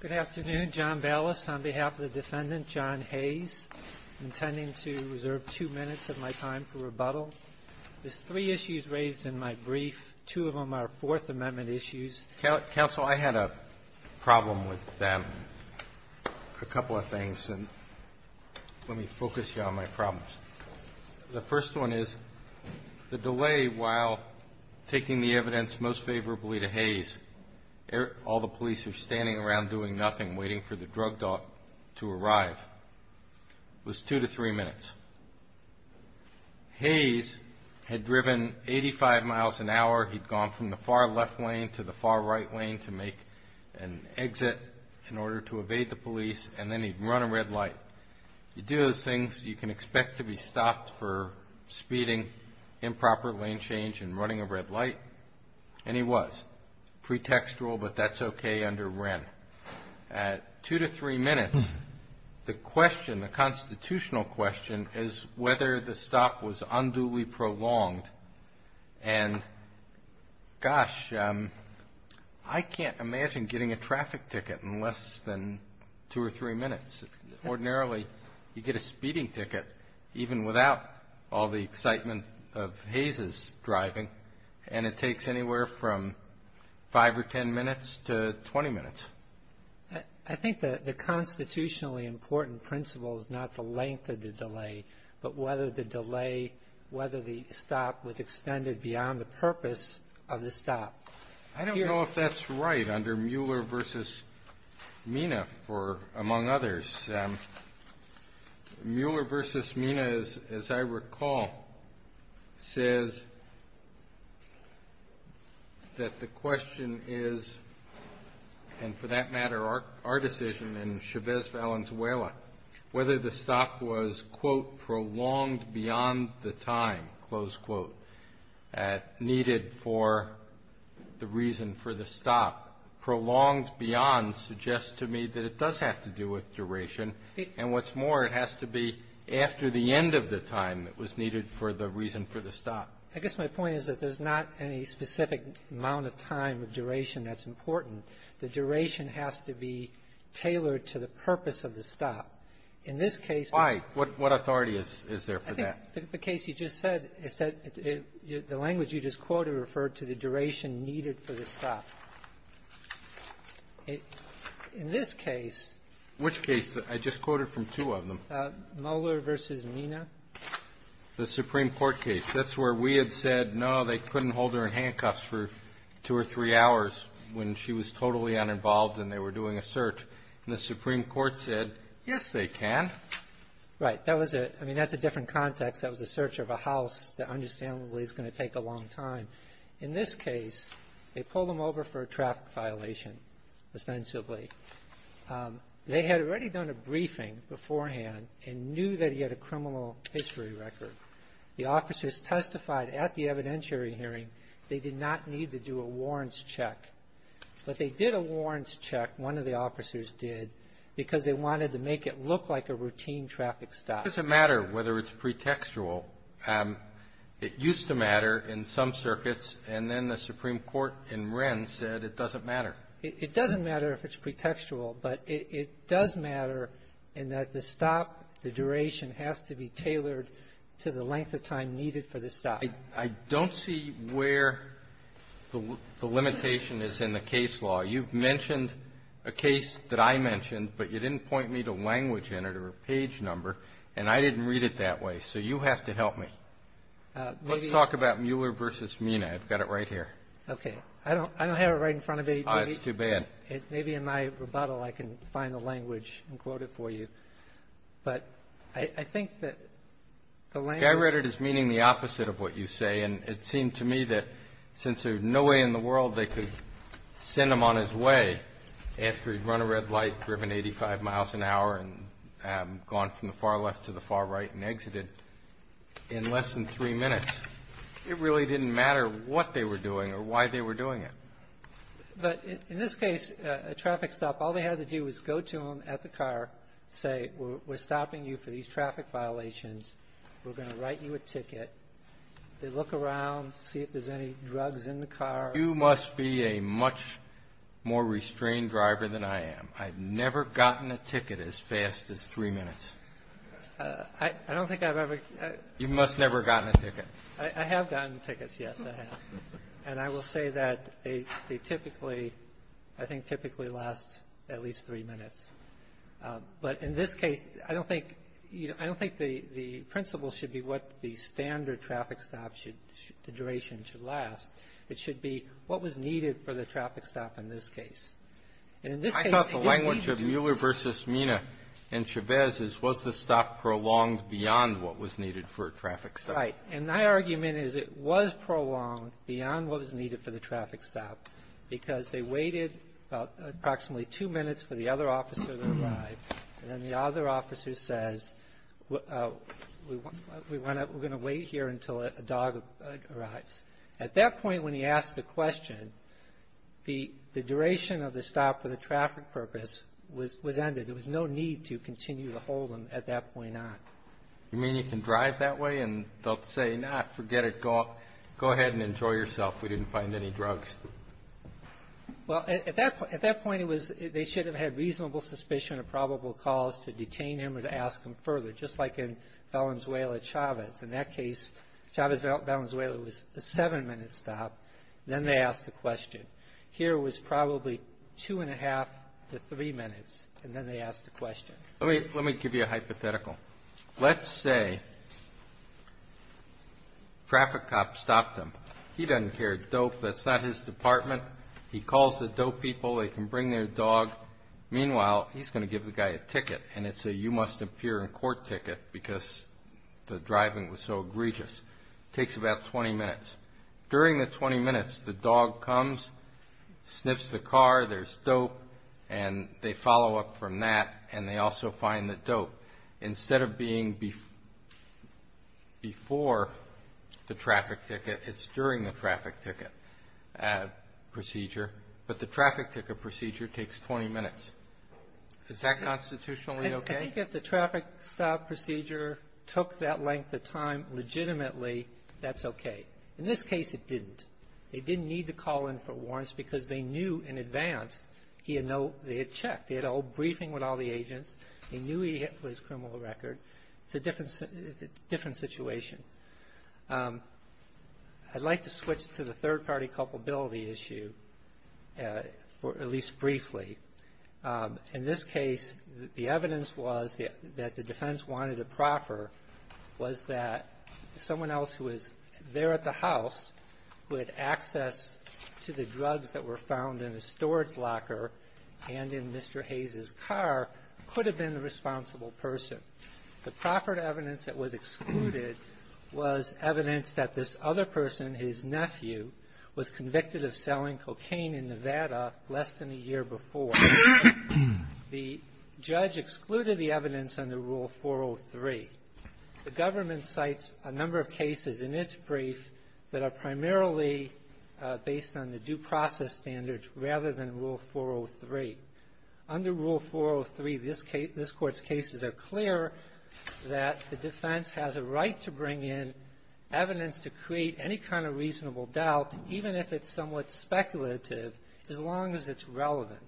Good afternoon. John Ballas on behalf of the defendant, John Hayes, intending to reserve two minutes of my time for rebuttal. There's three issues raised in my brief. Two of them are Fourth Amendment issues. Counsel, I had a problem with them, a couple of things, and let me focus you on my problems. The first one is the delay while taking the evidence most favorably to Hayes. All the police are standing around doing nothing, waiting for the drug dog to arrive. It was two to three minutes. Hayes had driven 85 miles an hour. He'd gone from the far left lane to the far right lane to make an exit in order to evade the police, and then he'd run a red light. You do those things, you can expect to be stopped for speeding, improper lane change, and running a red light. And he was. Pretextual, but that's okay under Wren. At two to three minutes, the question, the constitutional question, is whether the stop was unduly prolonged. And gosh, I can't imagine getting a traffic ticket in less than two or three minutes. Ordinarily, you get a speeding ticket even without all the excitement of Hayes' driving, and it takes anywhere from five or ten minutes to 20 minutes. I think the constitutionally important principle is not the length of the delay, but whether the delay, whether the stop was extended beyond the purpose of the stop. I don't know if that's right under Mueller v. Mina, among others. Mueller v. Mina, as I recall, says that the question is, and for that matter our decision in Chavez-Valenzuela, whether the stop was, quote, prolonged beyond the time, close quote, needed for the reason for the stop. Prolonged beyond suggests to me that it does have to do with duration. And what's more, it has to be after the end of the time that was needed for the reason for the stop. I guess my point is that there's not any specific amount of time or duration that's important. The duration has to be tailored to the purpose of the stop. In this case the ---- Why? What authority is there for that? I think the case you just said, the language you just quoted referred to the duration needed for the stop. In this case ---- Which case? I just quoted from two of them. Mueller v. Mina. The Supreme Court case. That's where we had said, no, they couldn't hold her in handcuffs for two or three hours when she was totally uninvolved and they were doing a search. And the Supreme Court said, yes, they can. That was a ---- I mean, that's a different context. That was a search of a house that understandably is going to take a long time. In this case, they pulled him over for a traffic violation, ostensibly. They had already done a briefing beforehand and knew that he had a criminal history record. The officers testified at the evidentiary hearing they did not need to do a warrants check. But they did a warrants check, one of the officers did, because they wanted to make it look like a routine traffic stop. It doesn't matter whether it's pretextual. It used to matter in some circuits, and then the Supreme Court in Wren said it doesn't matter. It doesn't matter if it's pretextual, but it does matter in that the stop, the duration has to be tailored to the length of time needed for the stop. I don't see where the limitation is in the case law. You've mentioned a case that I mentioned, but you didn't point me to language in it or a page number, and I didn't read it that way. So you have to help me. Let's talk about Mueller v. Mina. I've got it right here. Okay. I don't have it right in front of me. Oh, it's too bad. Maybe in my rebuttal I can find the language and quote it for you. But I think that the language ---- I read it as meaning the opposite of what you say, and it seemed to me that since there's no way in the world they could send him on his way after he'd run a red light, driven 85 miles an hour, and gone from the far left to the far right and exited in less than three minutes, it really didn't matter what they were doing or why they were doing it. But in this case, a traffic stop, all they had to do was go to him at the car, say, we're stopping you for these traffic violations. We're going to write you a ticket. They look around, see if there's any drugs in the car. You must be a much more restrained driver than I am. I've never gotten a ticket as fast as three minutes. I don't think I've ever ---- You must have never gotten a ticket. I have gotten tickets, yes, I have. And I will say that they typically, I think typically last at least three minutes. But in this case, I don't think, you know, I don't think the principle should be what the standard traffic stop should, the duration should last. It should be what was needed for the traffic stop in this case. And in this case ---- I thought the language of Mueller v. Mina and Chavez is was the stop prolonged beyond what was needed for a traffic stop. And my argument is it was prolonged beyond what was needed for the traffic stop because they waited approximately two minutes for the other officer to arrive. And then the other officer says, we're going to wait here until a dog arrives. At that point when he asked the question, the duration of the stop for the traffic purpose was ended. There was no need to continue to hold him at that point on. You mean you can drive that way and they'll say, no, forget it. Go ahead and enjoy yourself. We didn't find any drugs. Well, at that point it was they should have had reasonable suspicion of probable cause to detain him or to ask him further, just like in Valenzuela-Chavez. In that case, Chavez-Valenzuela was a seven-minute stop. Then they asked the question. Here it was probably two and a half to three minutes, and then they asked the question. Let me give you a hypothetical. Let's say traffic cops stopped him. He doesn't care. Dope, that's not his department. He calls the dope people. They can bring their dog. Meanwhile, he's going to give the guy a ticket, and it's a you-must-appear-in-court ticket because the driving was so egregious. It takes about 20 minutes. During the 20 minutes, the dog comes, sniffs the car, there's dope, and they follow up from that, and they also find the dope. Instead of being before the traffic ticket, it's during the traffic ticket procedure, but the traffic ticket procedure takes 20 minutes. Is that constitutionally okay? I think if the traffic stop procedure took that length of time legitimately, that's okay. In this case, it didn't. They didn't need to call in for warrants because they knew in advance they had checked. They had a whole briefing with all the agents. They knew he had his criminal record. It's a different situation. I'd like to switch to the third-party culpability issue, at least briefly. In this case, the evidence was that the defense wanted to proffer was that someone else who was there at the house who had access to the drugs that were found in the storage locker and in Mr. Hayes' car could have been the responsible person. The proffered evidence that was excluded was evidence that this other person, his nephew, was convicted of selling cocaine in Nevada less than a year before. The judge excluded the evidence under Rule 403. The government cites a number of cases in its brief that are primarily based on the due process standards rather than Rule 403. Under Rule 403, this Court's cases are clear that the defense has a right to bring in evidence to create any kind of reasonable doubt, even if it's somewhat speculative, as long as it's relevant.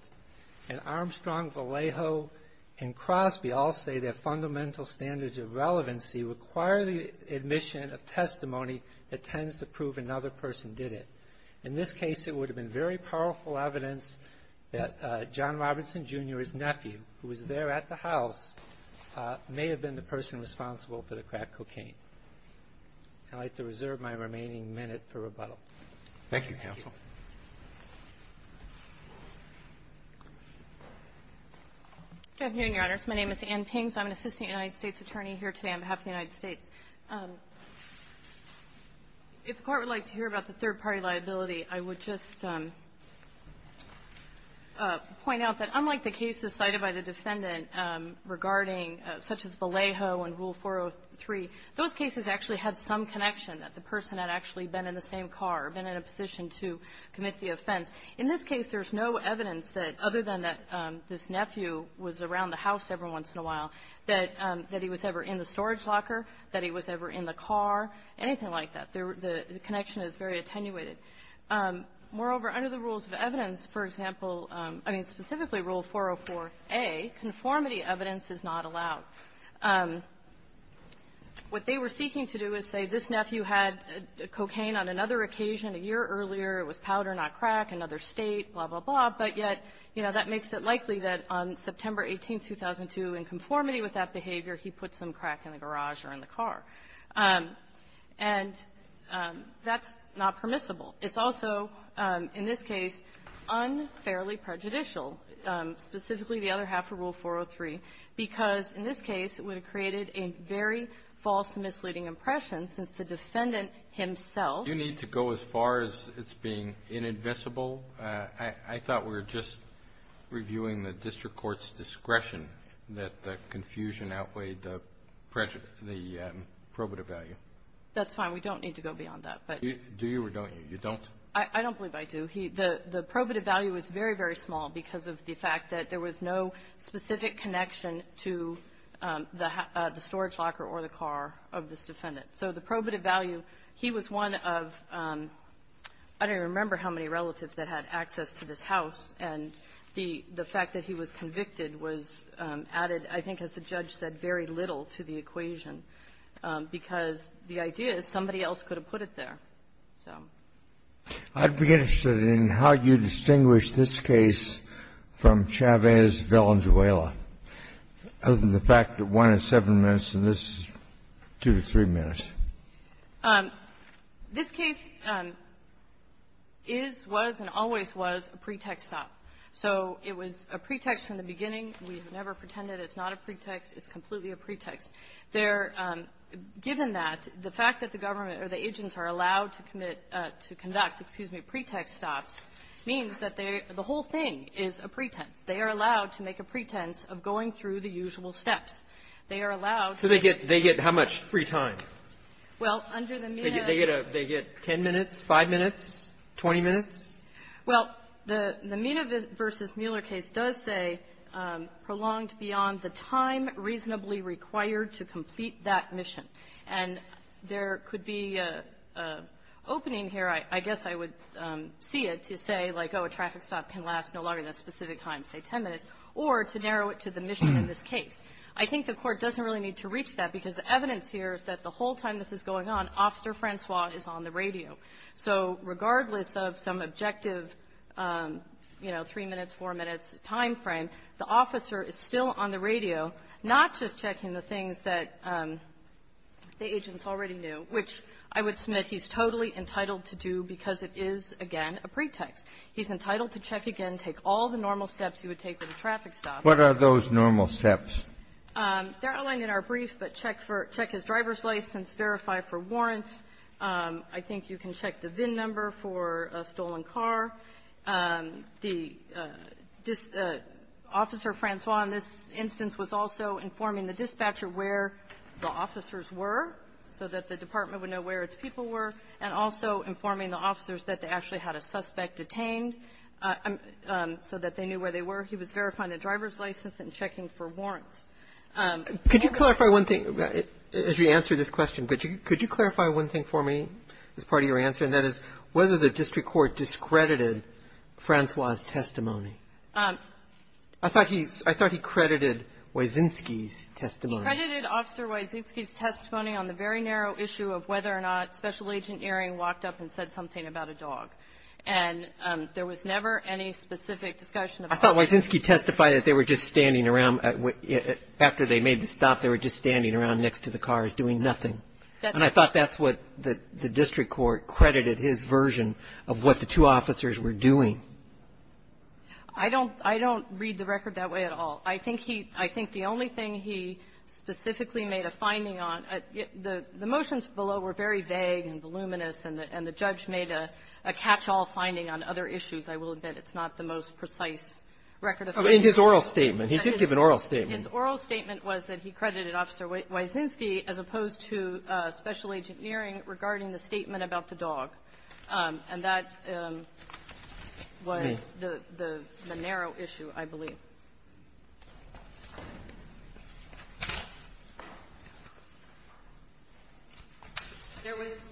And Armstrong, Vallejo, and Crosby all say their fundamental standards of relevancy require the admission of testimony that tends to prove another person did it. In this case, it would have been very powerful evidence that John Robinson, Jr., his nephew, who was there at the house, may have been the person responsible for the crack cocaine. I'd like to reserve my remaining minute for rebuttal. Thank you, counsel. Good afternoon, Your Honors. My name is Ann Pings. I'm an assistant United States attorney here today on behalf of the United States. If the Court would like to hear about the third-party liability, I would just point out that unlike the cases cited by the defendant regarding such as Vallejo and Rule 403, those cases actually had some connection, that the person had actually been in the same car, been in a position to commit the offense. In this case, there's no evidence that, other than that this nephew was around the house every once in a while, that he was ever in the storage locker, that he was ever in the car, anything like that. The connection is very attenuated. Moreover, under the rules of evidence, for example --" I mean, specifically Rule 404a, conformity evidence is not allowed. What they were seeking to do is say this nephew had cocaine on another occasion a year earlier. It was powder, not crack, another state, blah, blah, blah. But yet, you know, that makes it likely that on September 18, 2002, in conformity with that behavior, he put some crack in the garage or in the car. And that's not permissible. It's also, in this case, unfairly prejudicial, specifically the other half of Rule 403, because in this case, it would have created a very false and misleading impression, since the defendant himself --" Kennedy, you need to go as far as it's being inadmissible. I thought we were just reviewing the district court's discretion that the confusion outweighed the pressure, the probative value. That's fine. We don't need to go beyond that, but you don't. I don't believe I do. The probative value is very, very small because of the fact that there was no specific connection to the storage locker or the car of this defendant. So the probative value, he was one of, I don't even remember how many relatives that had access to this house, and the fact that he was convicted was added, I think, as the judge said, very little to the equation, because the idea is somebody else could have put it there. So --" Kennedy, I'd be interested in how you distinguish this case from Chavez-Villanueva, other than the fact that one is 7 minutes and this is 2 to 3 minutes. This case is, was, and always was a pretext stop. So it was a pretext from the beginning. We have never pretended it's not a pretext. It's completely a pretext. There, given that, the fact that the government or the agents are allowed to commit to conduct, excuse me, pretext stops, means that they, the whole thing is a pretense. They are allowed to make a pretense of going through the usual steps. They are allowed to make a pretense of going through the usual steps. So they get, they get how much free time? Well, under the Mena ---- They get a, they get 10 minutes, 5 minutes, 20 minutes? Well, the Mena v. Mueller case does say prolonged beyond the time reasonably required to complete that mission. And there could be an opening here, I guess I would see it, to say, like, oh, a traffic stop can last no longer than a specific time, say 10 minutes, or to narrow it to the mission in this case. I think the Court doesn't really need to reach that because the evidence here is that the whole time this is going on, Officer Francois is on the radio. So regardless of some objective, you know, 3 minutes, 4 minutes time frame, the officer is still on the radio, not just checking the things that the agents already knew, which I would submit he's totally entitled to do because it is, again, a pretext. He's entitled to check again, take all the normal steps he would take with a traffic stop. What are those normal steps? They're outlined in our brief, but check for check his driver's license, verify for warrants. I think you can check the VIN number for a stolen car. The officer, Francois, in this instance, was also informing the dispatcher where the officers were so that the department would know where its people were, and also informing the officers that they actually had a suspect detained so that they knew where they were. He was verifying the driver's license and checking for warrants. Roberts, could you clarify one thing as you answer this question? Could you clarify one thing for me as part of your answer, and that is, whether the district court discredited Francois's testimony? I thought he credited Wysinski's testimony. He credited Officer Wysinski's testimony on the very narrow issue of whether or not Special Agent Earing walked up and said something about a dog. And there was never any specific discussion of options. I thought Wysinski testified that they were just standing around. After they made the stop, they were just standing around next to the cars doing nothing. And I thought that's what the district court credited his version of what the two officers were doing. I don't read the record that way at all. I think he – I think the only thing he specifically made a finding on, the motions below were very vague and voluminous, and the judge made a catch-all finding on other issues. I will admit it's not the most precise record of findings. In his oral statement. He did give an oral statement. His oral statement was that he credited Officer Wysinski as opposed to Special Agent Earing regarding the statement about the dog, and that was the narrow issue, I believe.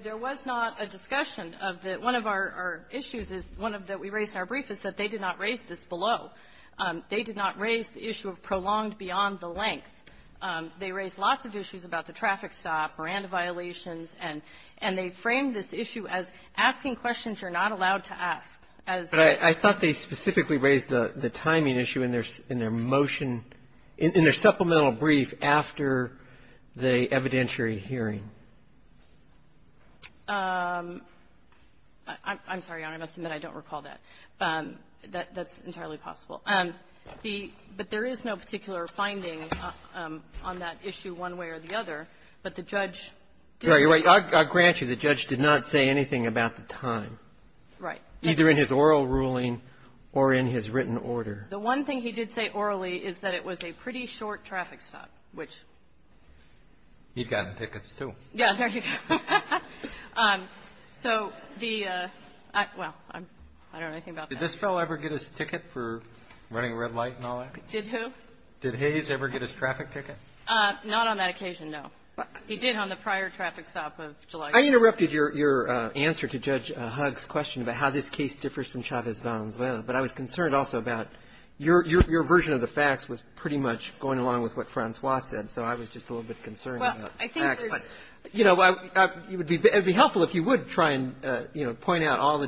There was not a discussion of the – one of our issues is – one of the – we raised in our brief is that they did not raise this below. They did not raise the issue of prolonged beyond the length. They raised lots of issues about the traffic stop or antiviolations. And they framed this issue as asking questions you're not allowed to ask. As they – But I thought they specifically raised the timing issue in their – in their motion – in their supplemental brief after the evidentiary hearing. I'm sorry, Your Honor. I must admit I don't recall that. That's entirely possible. The – but there is no particular finding on that issue one way or the other. But the judge did – I grant you the judge did not say anything about the time. Right. Either in his oral ruling or in his written order. The one thing he did say orally is that it was a pretty short traffic stop, which He'd gotten tickets, too. Yeah. So the – well, I don't know anything about that. Did this fellow ever get his ticket for running a red light and all that? Did who? Did Hayes ever get his traffic ticket? Not on that occasion, no. He did on the prior traffic stop of July. I interrupted your – your answer to Judge Hugg's question about how this case differs from Chavez-Valenzuela. But I was concerned also about your – your version of the facts was pretty much going along with what Francois said. So I was just a little bit concerned about facts. Well, I think there's – But, you know, it would be helpful if you would try and, you know, point out all the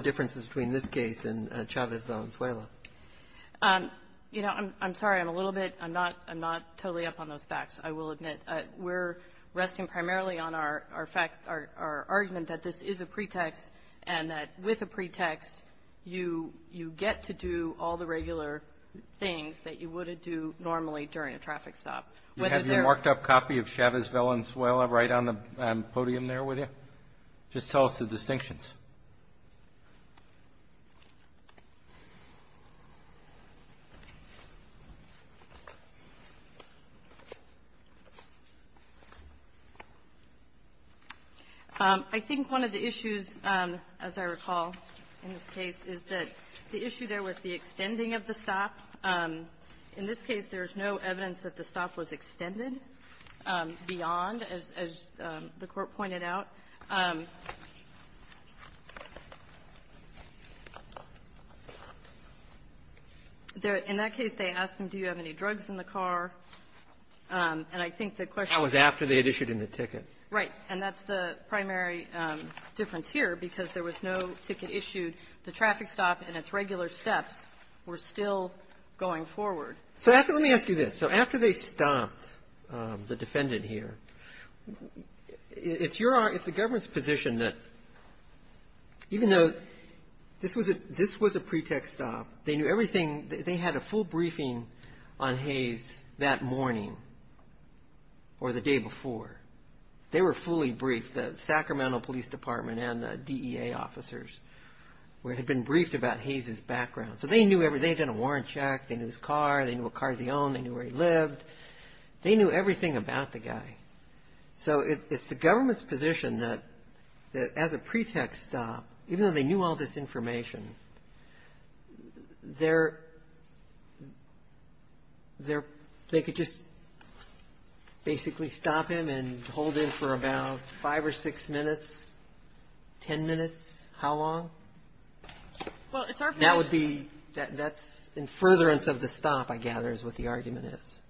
Chavez-Valenzuela. You know, I'm sorry. I'm a little bit – I'm not – I'm not totally up on those facts, I will admit. We're resting primarily on our fact – our argument that this is a pretext and that with a pretext, you – you get to do all the regular things that you would do normally during a traffic stop. Whether there are – You have your marked-up copy of Chavez-Valenzuela right on the podium there, would you? Just tell us the distinctions. I think one of the issues, as I recall, in this case, is that the issue there was the extending of the stop. In this case, there is no evidence that the stop was extended beyond, as the Court pointed out. In that case, they asked him, do you have any drugs in the car? And I think the question is – That was after they had issued him the ticket. Right. And that's the primary difference here, because there was no ticket issued. The traffic stop and its regular steps were still going forward. So after – let me ask you this. So after they stopped the defendant here, it's your – it's the government's position that even though this was a – this was a pretext stop, they knew everything – they had a full briefing on Hayes that morning or the day before. They were fully briefed, the Sacramento Police Department and the DEA officers, who had been briefed about Hayes' background. So they knew everything. They had done a warrant check. They knew his car. They knew what cars he owned. They knew where he lived. They knew everything about the guy. So it's the government's position that as a pretext stop, even though they knew all this information, they're – they could just basically stop him and hold him for about five or six minutes, ten minutes, how long? Well, it's our view that – That would be – that's in furtherance of the stop, I gather, is what the argument is.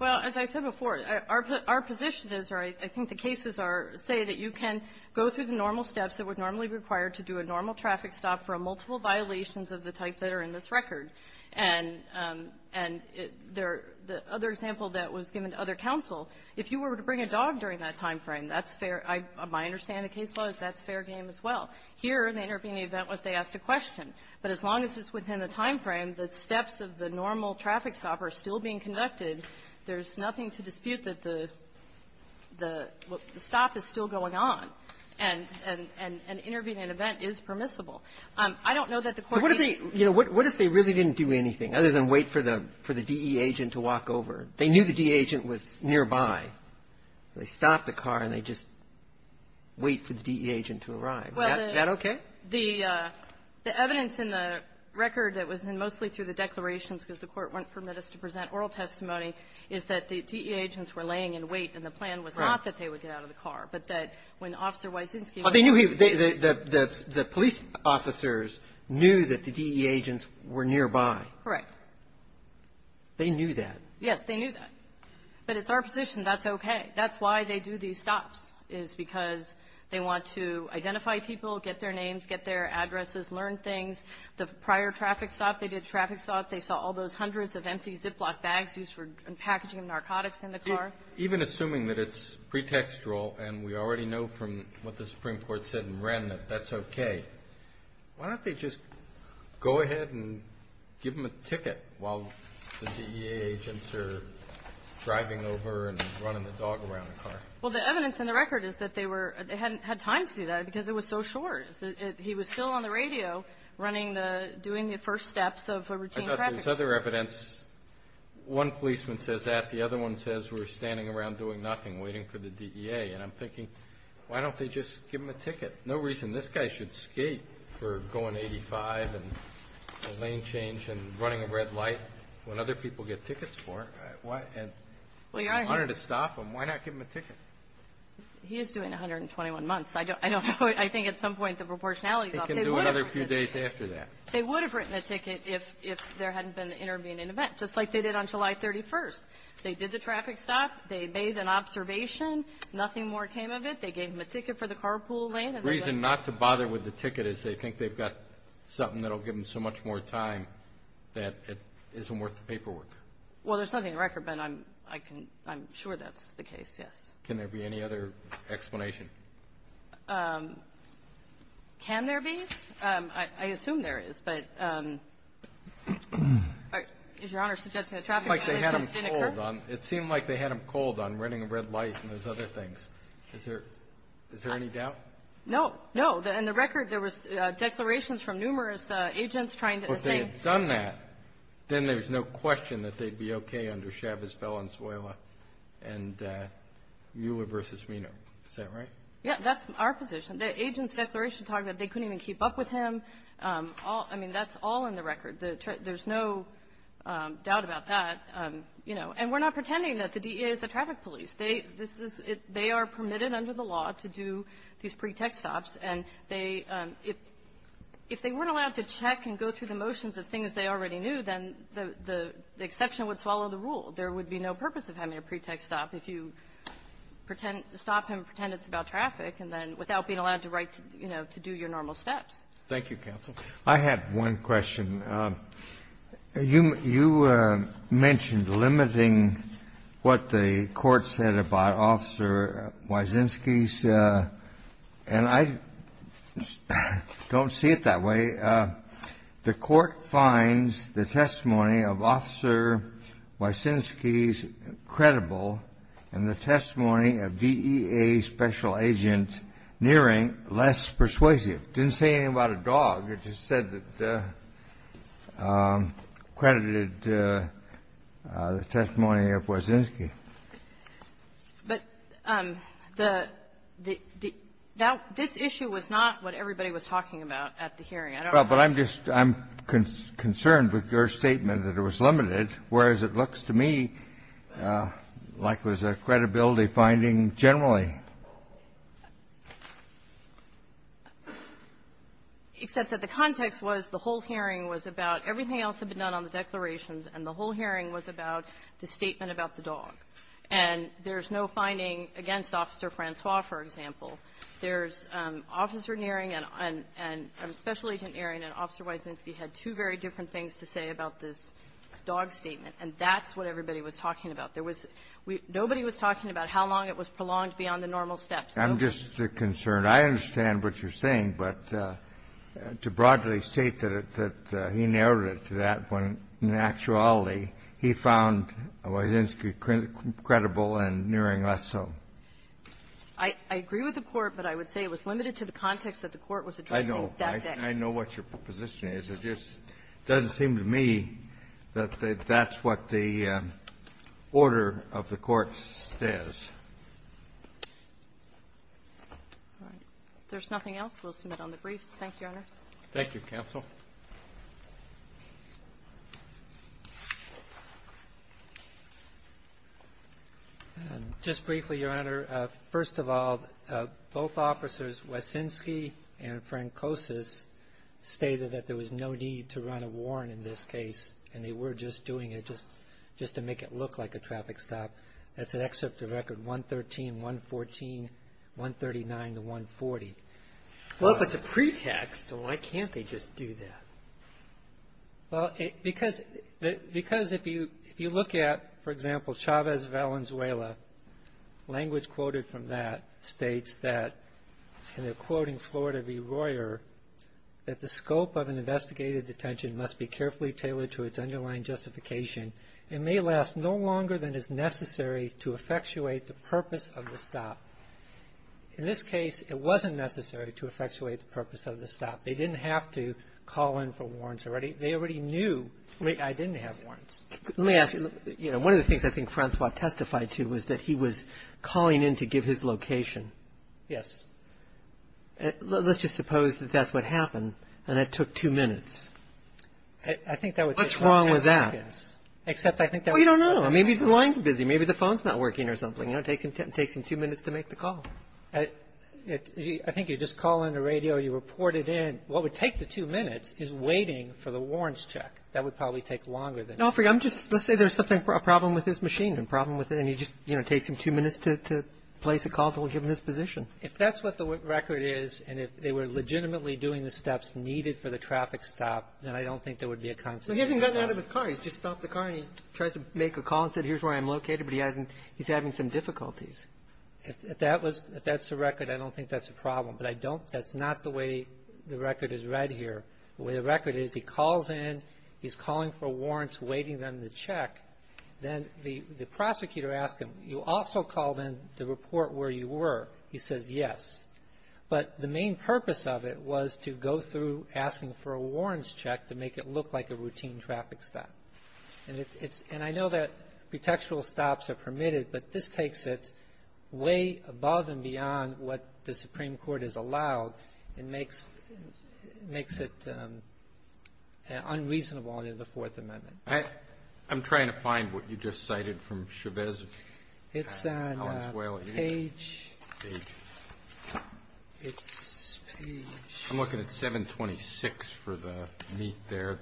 Well, as I said before, our position is – or I think the cases are – say that you can go through the normal steps that would normally be required to do a normal traffic stop for multiple violations of the types that are in this record. And the other example that was given to other counsel, if you were to bring a dog during that timeframe, that's fair – my understanding of case law is that's fair game as well. Here, in the intervening event, was they asked a question. But as long as it's within the timeframe, the steps of the normal traffic stop are still being conducted, there's nothing to dispute that the – the stop is still going on, and – and intervening in an event is permissible. I don't know that the Court needs to do that. So what if they – you know, what if they really didn't do anything, other than wait for the – for the DE agent to walk over? They knew the DE agent was nearby. They stopped the car, and they just wait for the DE agent to arrive. Is that okay? Well, the – the evidence in the record that was in mostly through the declarations because the Court wouldn't permit us to present oral testimony is that the DE agents were laying in wait, and the plan was not that they would get out of the car, but that when Officer Wysinski was – Well, they knew he – the police officers knew that the DE agents were nearby. Correct. They knew that. Yes, they knew that. But it's our position that's okay. That's why they do these stops, is because they want to identify people, get their names, get their addresses, learn things. The prior traffic stop, they did a traffic stop. They saw all those hundreds of empty Ziploc bags used for packaging of narcotics in the car. Even assuming that it's pretextual, and we already know from what the Supreme Court said in Wren that that's okay, why don't they just go ahead and give him a ticket while the DE agents are driving over and running the dog around the car? Well, the evidence in the record is that they were – they hadn't had time to do that because it was so short. He was still on the radio running the – doing the first steps of a routine traffic stop. I thought there was other evidence. One policeman says that. The other one says we're standing around doing nothing, waiting for the DEA. And I'm thinking, why don't they just give him a ticket? No reason. This guy should skate for going 85 and lane change and running a red light when other people get tickets for him. Why – and He is doing 121 months. I don't know. I think at some point the proportionality is off. They can do another few days after that. They would have written a ticket if there hadn't been the intervening event, just like they did on July 31st. They did the traffic stop. They made an observation. Nothing more came of it. They gave him a ticket for the carpool lane. The reason not to bother with the ticket is they think they've got something that will give them so much more time that it isn't worth the paperwork. Well, there's nothing in the record, but I'm sure that's the case, yes. Can there be any other explanation? Can there be? I assume there is, but is Your Honor suggesting that traffic collisions didn't occur? It seemed like they had him cold on running a red light and those other things. Is there – is there any doubt? No. No. In the record, there was declarations from numerous agents trying to say Well, if they had done that, then there's no question that they'd be okay under Chavez, Valenzuela, and Mueller v. Reno. Is that right? Yeah. That's our position. The agents' declarations talk that they couldn't even keep up with him. All – I mean, that's all in the record. There's no doubt about that, you know. And we're not pretending that the DEA is the traffic police. They – this is – they are permitted under the law to do these pre-text stops. And they – if they weren't allowed to check and go through the motions of things they already knew, then the exception would swallow the rule. There would be no purpose of having a pre-text stop if you pretend – stop him, pretend it's about traffic, and then without being allowed to write, you know, to do your normal steps. Thank you, counsel. I have one question. You – you mentioned limiting what the court said about Officer Wyszynski's – and I don't see it that way. The court finds the testimony of Officer Wyszynski's credible, and the testimony of DEA special agent Neering less persuasive. It didn't say anything about a dog. It just said that – credited the testimony of Wyszynski. But the – now, this issue was not what everybody was talking about at the hearing. I don't know how to say it. Well, but I'm just – I'm concerned with your statement that it was limited, whereas it looks to me like it was a credibility finding generally. Except that the context was the whole hearing was about everything else had been on the declarations, and the whole hearing was about the statement about the dog. And there's no finding against Officer Francois, for example. There's Officer Neering and – and Special Agent Neering and Officer Wyszynski had two very different things to say about this dog statement. And that's what everybody was talking about. There was – nobody was talking about how long it was prolonged beyond the normal steps. I'm just concerned. I understand what you're saying. But to broadly state that it – that he narrowed it to that when, in actuality, he found Wyszynski credible and Neering less so. I agree with the Court, but I would say it was limited to the context that the Court was addressing that day. I know. I know what your position is. It just doesn't seem to me that that's what the order of the Court says. All right. If there's nothing else, we'll submit on the briefs. Thank you, Your Honor. Thank you, Counsel. Just briefly, Your Honor, first of all, both officers, Wyszynski and Francois, stated that there was no need to run a warrant in this case, and they were just doing it just – just to make it look like a traffic stop. That's an excerpt of Record 113, 114, 139 to 140. Well, if it's a pretext, why can't they just do that? Well, because if you look at, for example, Chavez Valenzuela, language quoted from that states that – and they're quoting Florida v. Royer – that the scope of an investigated detention must be carefully tailored to its underlying justification. It may last no longer than is necessary to effectuate the purpose of the stop. In this case, it wasn't necessary to effectuate the purpose of the stop. They didn't have to call in for warrants already. They already knew I didn't have warrants. Let me ask you, you know, one of the things I think Francois testified to was that he was calling in to give his location. Yes. Let's just suppose that that's what happened, and it took two minutes. I think that would take 10 seconds. What's wrong with that? I don't think that would take 10 seconds, except I think that would take 10 seconds. Well, you don't know. Maybe the line's busy. Maybe the phone's not working or something. You know, it takes him two minutes to make the call. I think you just call in the radio, you report it in. What would take the two minutes is waiting for the warrants check. That would probably take longer than that. No, I'm just – let's say there's a problem with his machine, a problem with it, and he just, you know, takes him two minutes to place a call to give him his position. If that's what the record is, and if they were legitimately doing the steps needed for the traffic stop, then I don't think there would be a consequence. So he hasn't gotten out of his car. He's just stopped the car, and he tries to make a call and said, here's where I'm located, but he hasn't – he's having some difficulties. If that was – if that's the record, I don't think that's a problem. But I don't – that's not the way the record is read here. The way the record is, he calls in, he's calling for warrants, waiting them to check. Then the prosecutor asks him, you also called in to report where you were. He says yes. But the main purpose of it was to go through asking for a warrants check to make it look like a routine traffic stop. And it's – and I know that pretextual stops are permitted, but this takes it way above and beyond what the Supreme Court has allowed and makes – makes it unreasonable under the Fourth Amendment. Roberts. I'm trying to find what you just cited from Chavez. It's on page – it's page – I'm looking at 726 for the meat there.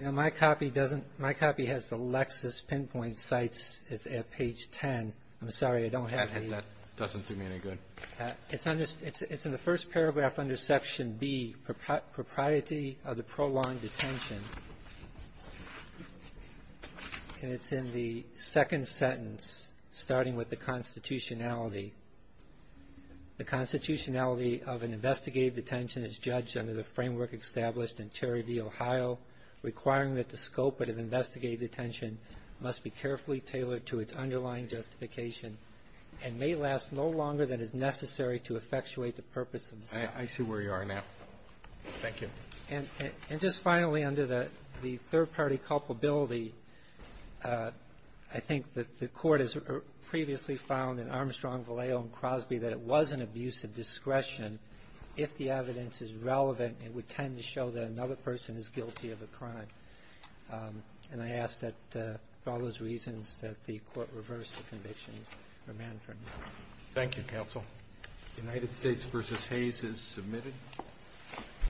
Now, my copy doesn't – my copy has the Lexis pinpoint sites. It's at page 10. I'm sorry, I don't have any – That doesn't do me any good. It's under – it's in the first paragraph under Section B, Propriety of the Prolonged Detention, and it's in the second sentence, starting with the constitutionality. The constitutionality of an investigative detention is judged under the framework established in Terry v. Ohio, requiring that the scope of an investigative detention must be carefully tailored to its underlying justification and may last no longer than is necessary to effectuate the purpose of the sentence. I see where you are now. Thank you. And just finally, under the third-party culpability, I think that the Court has previously found in Armstrong, Vallejo, and Crosby that it was an abuse of discretion if the evidence is relevant and would tend to show that another person is guilty of a crime. And I ask that, for all those reasons, that the Court reverse the convictions for Manfred. Thank you, counsel. The United States v. Hayes is submitted.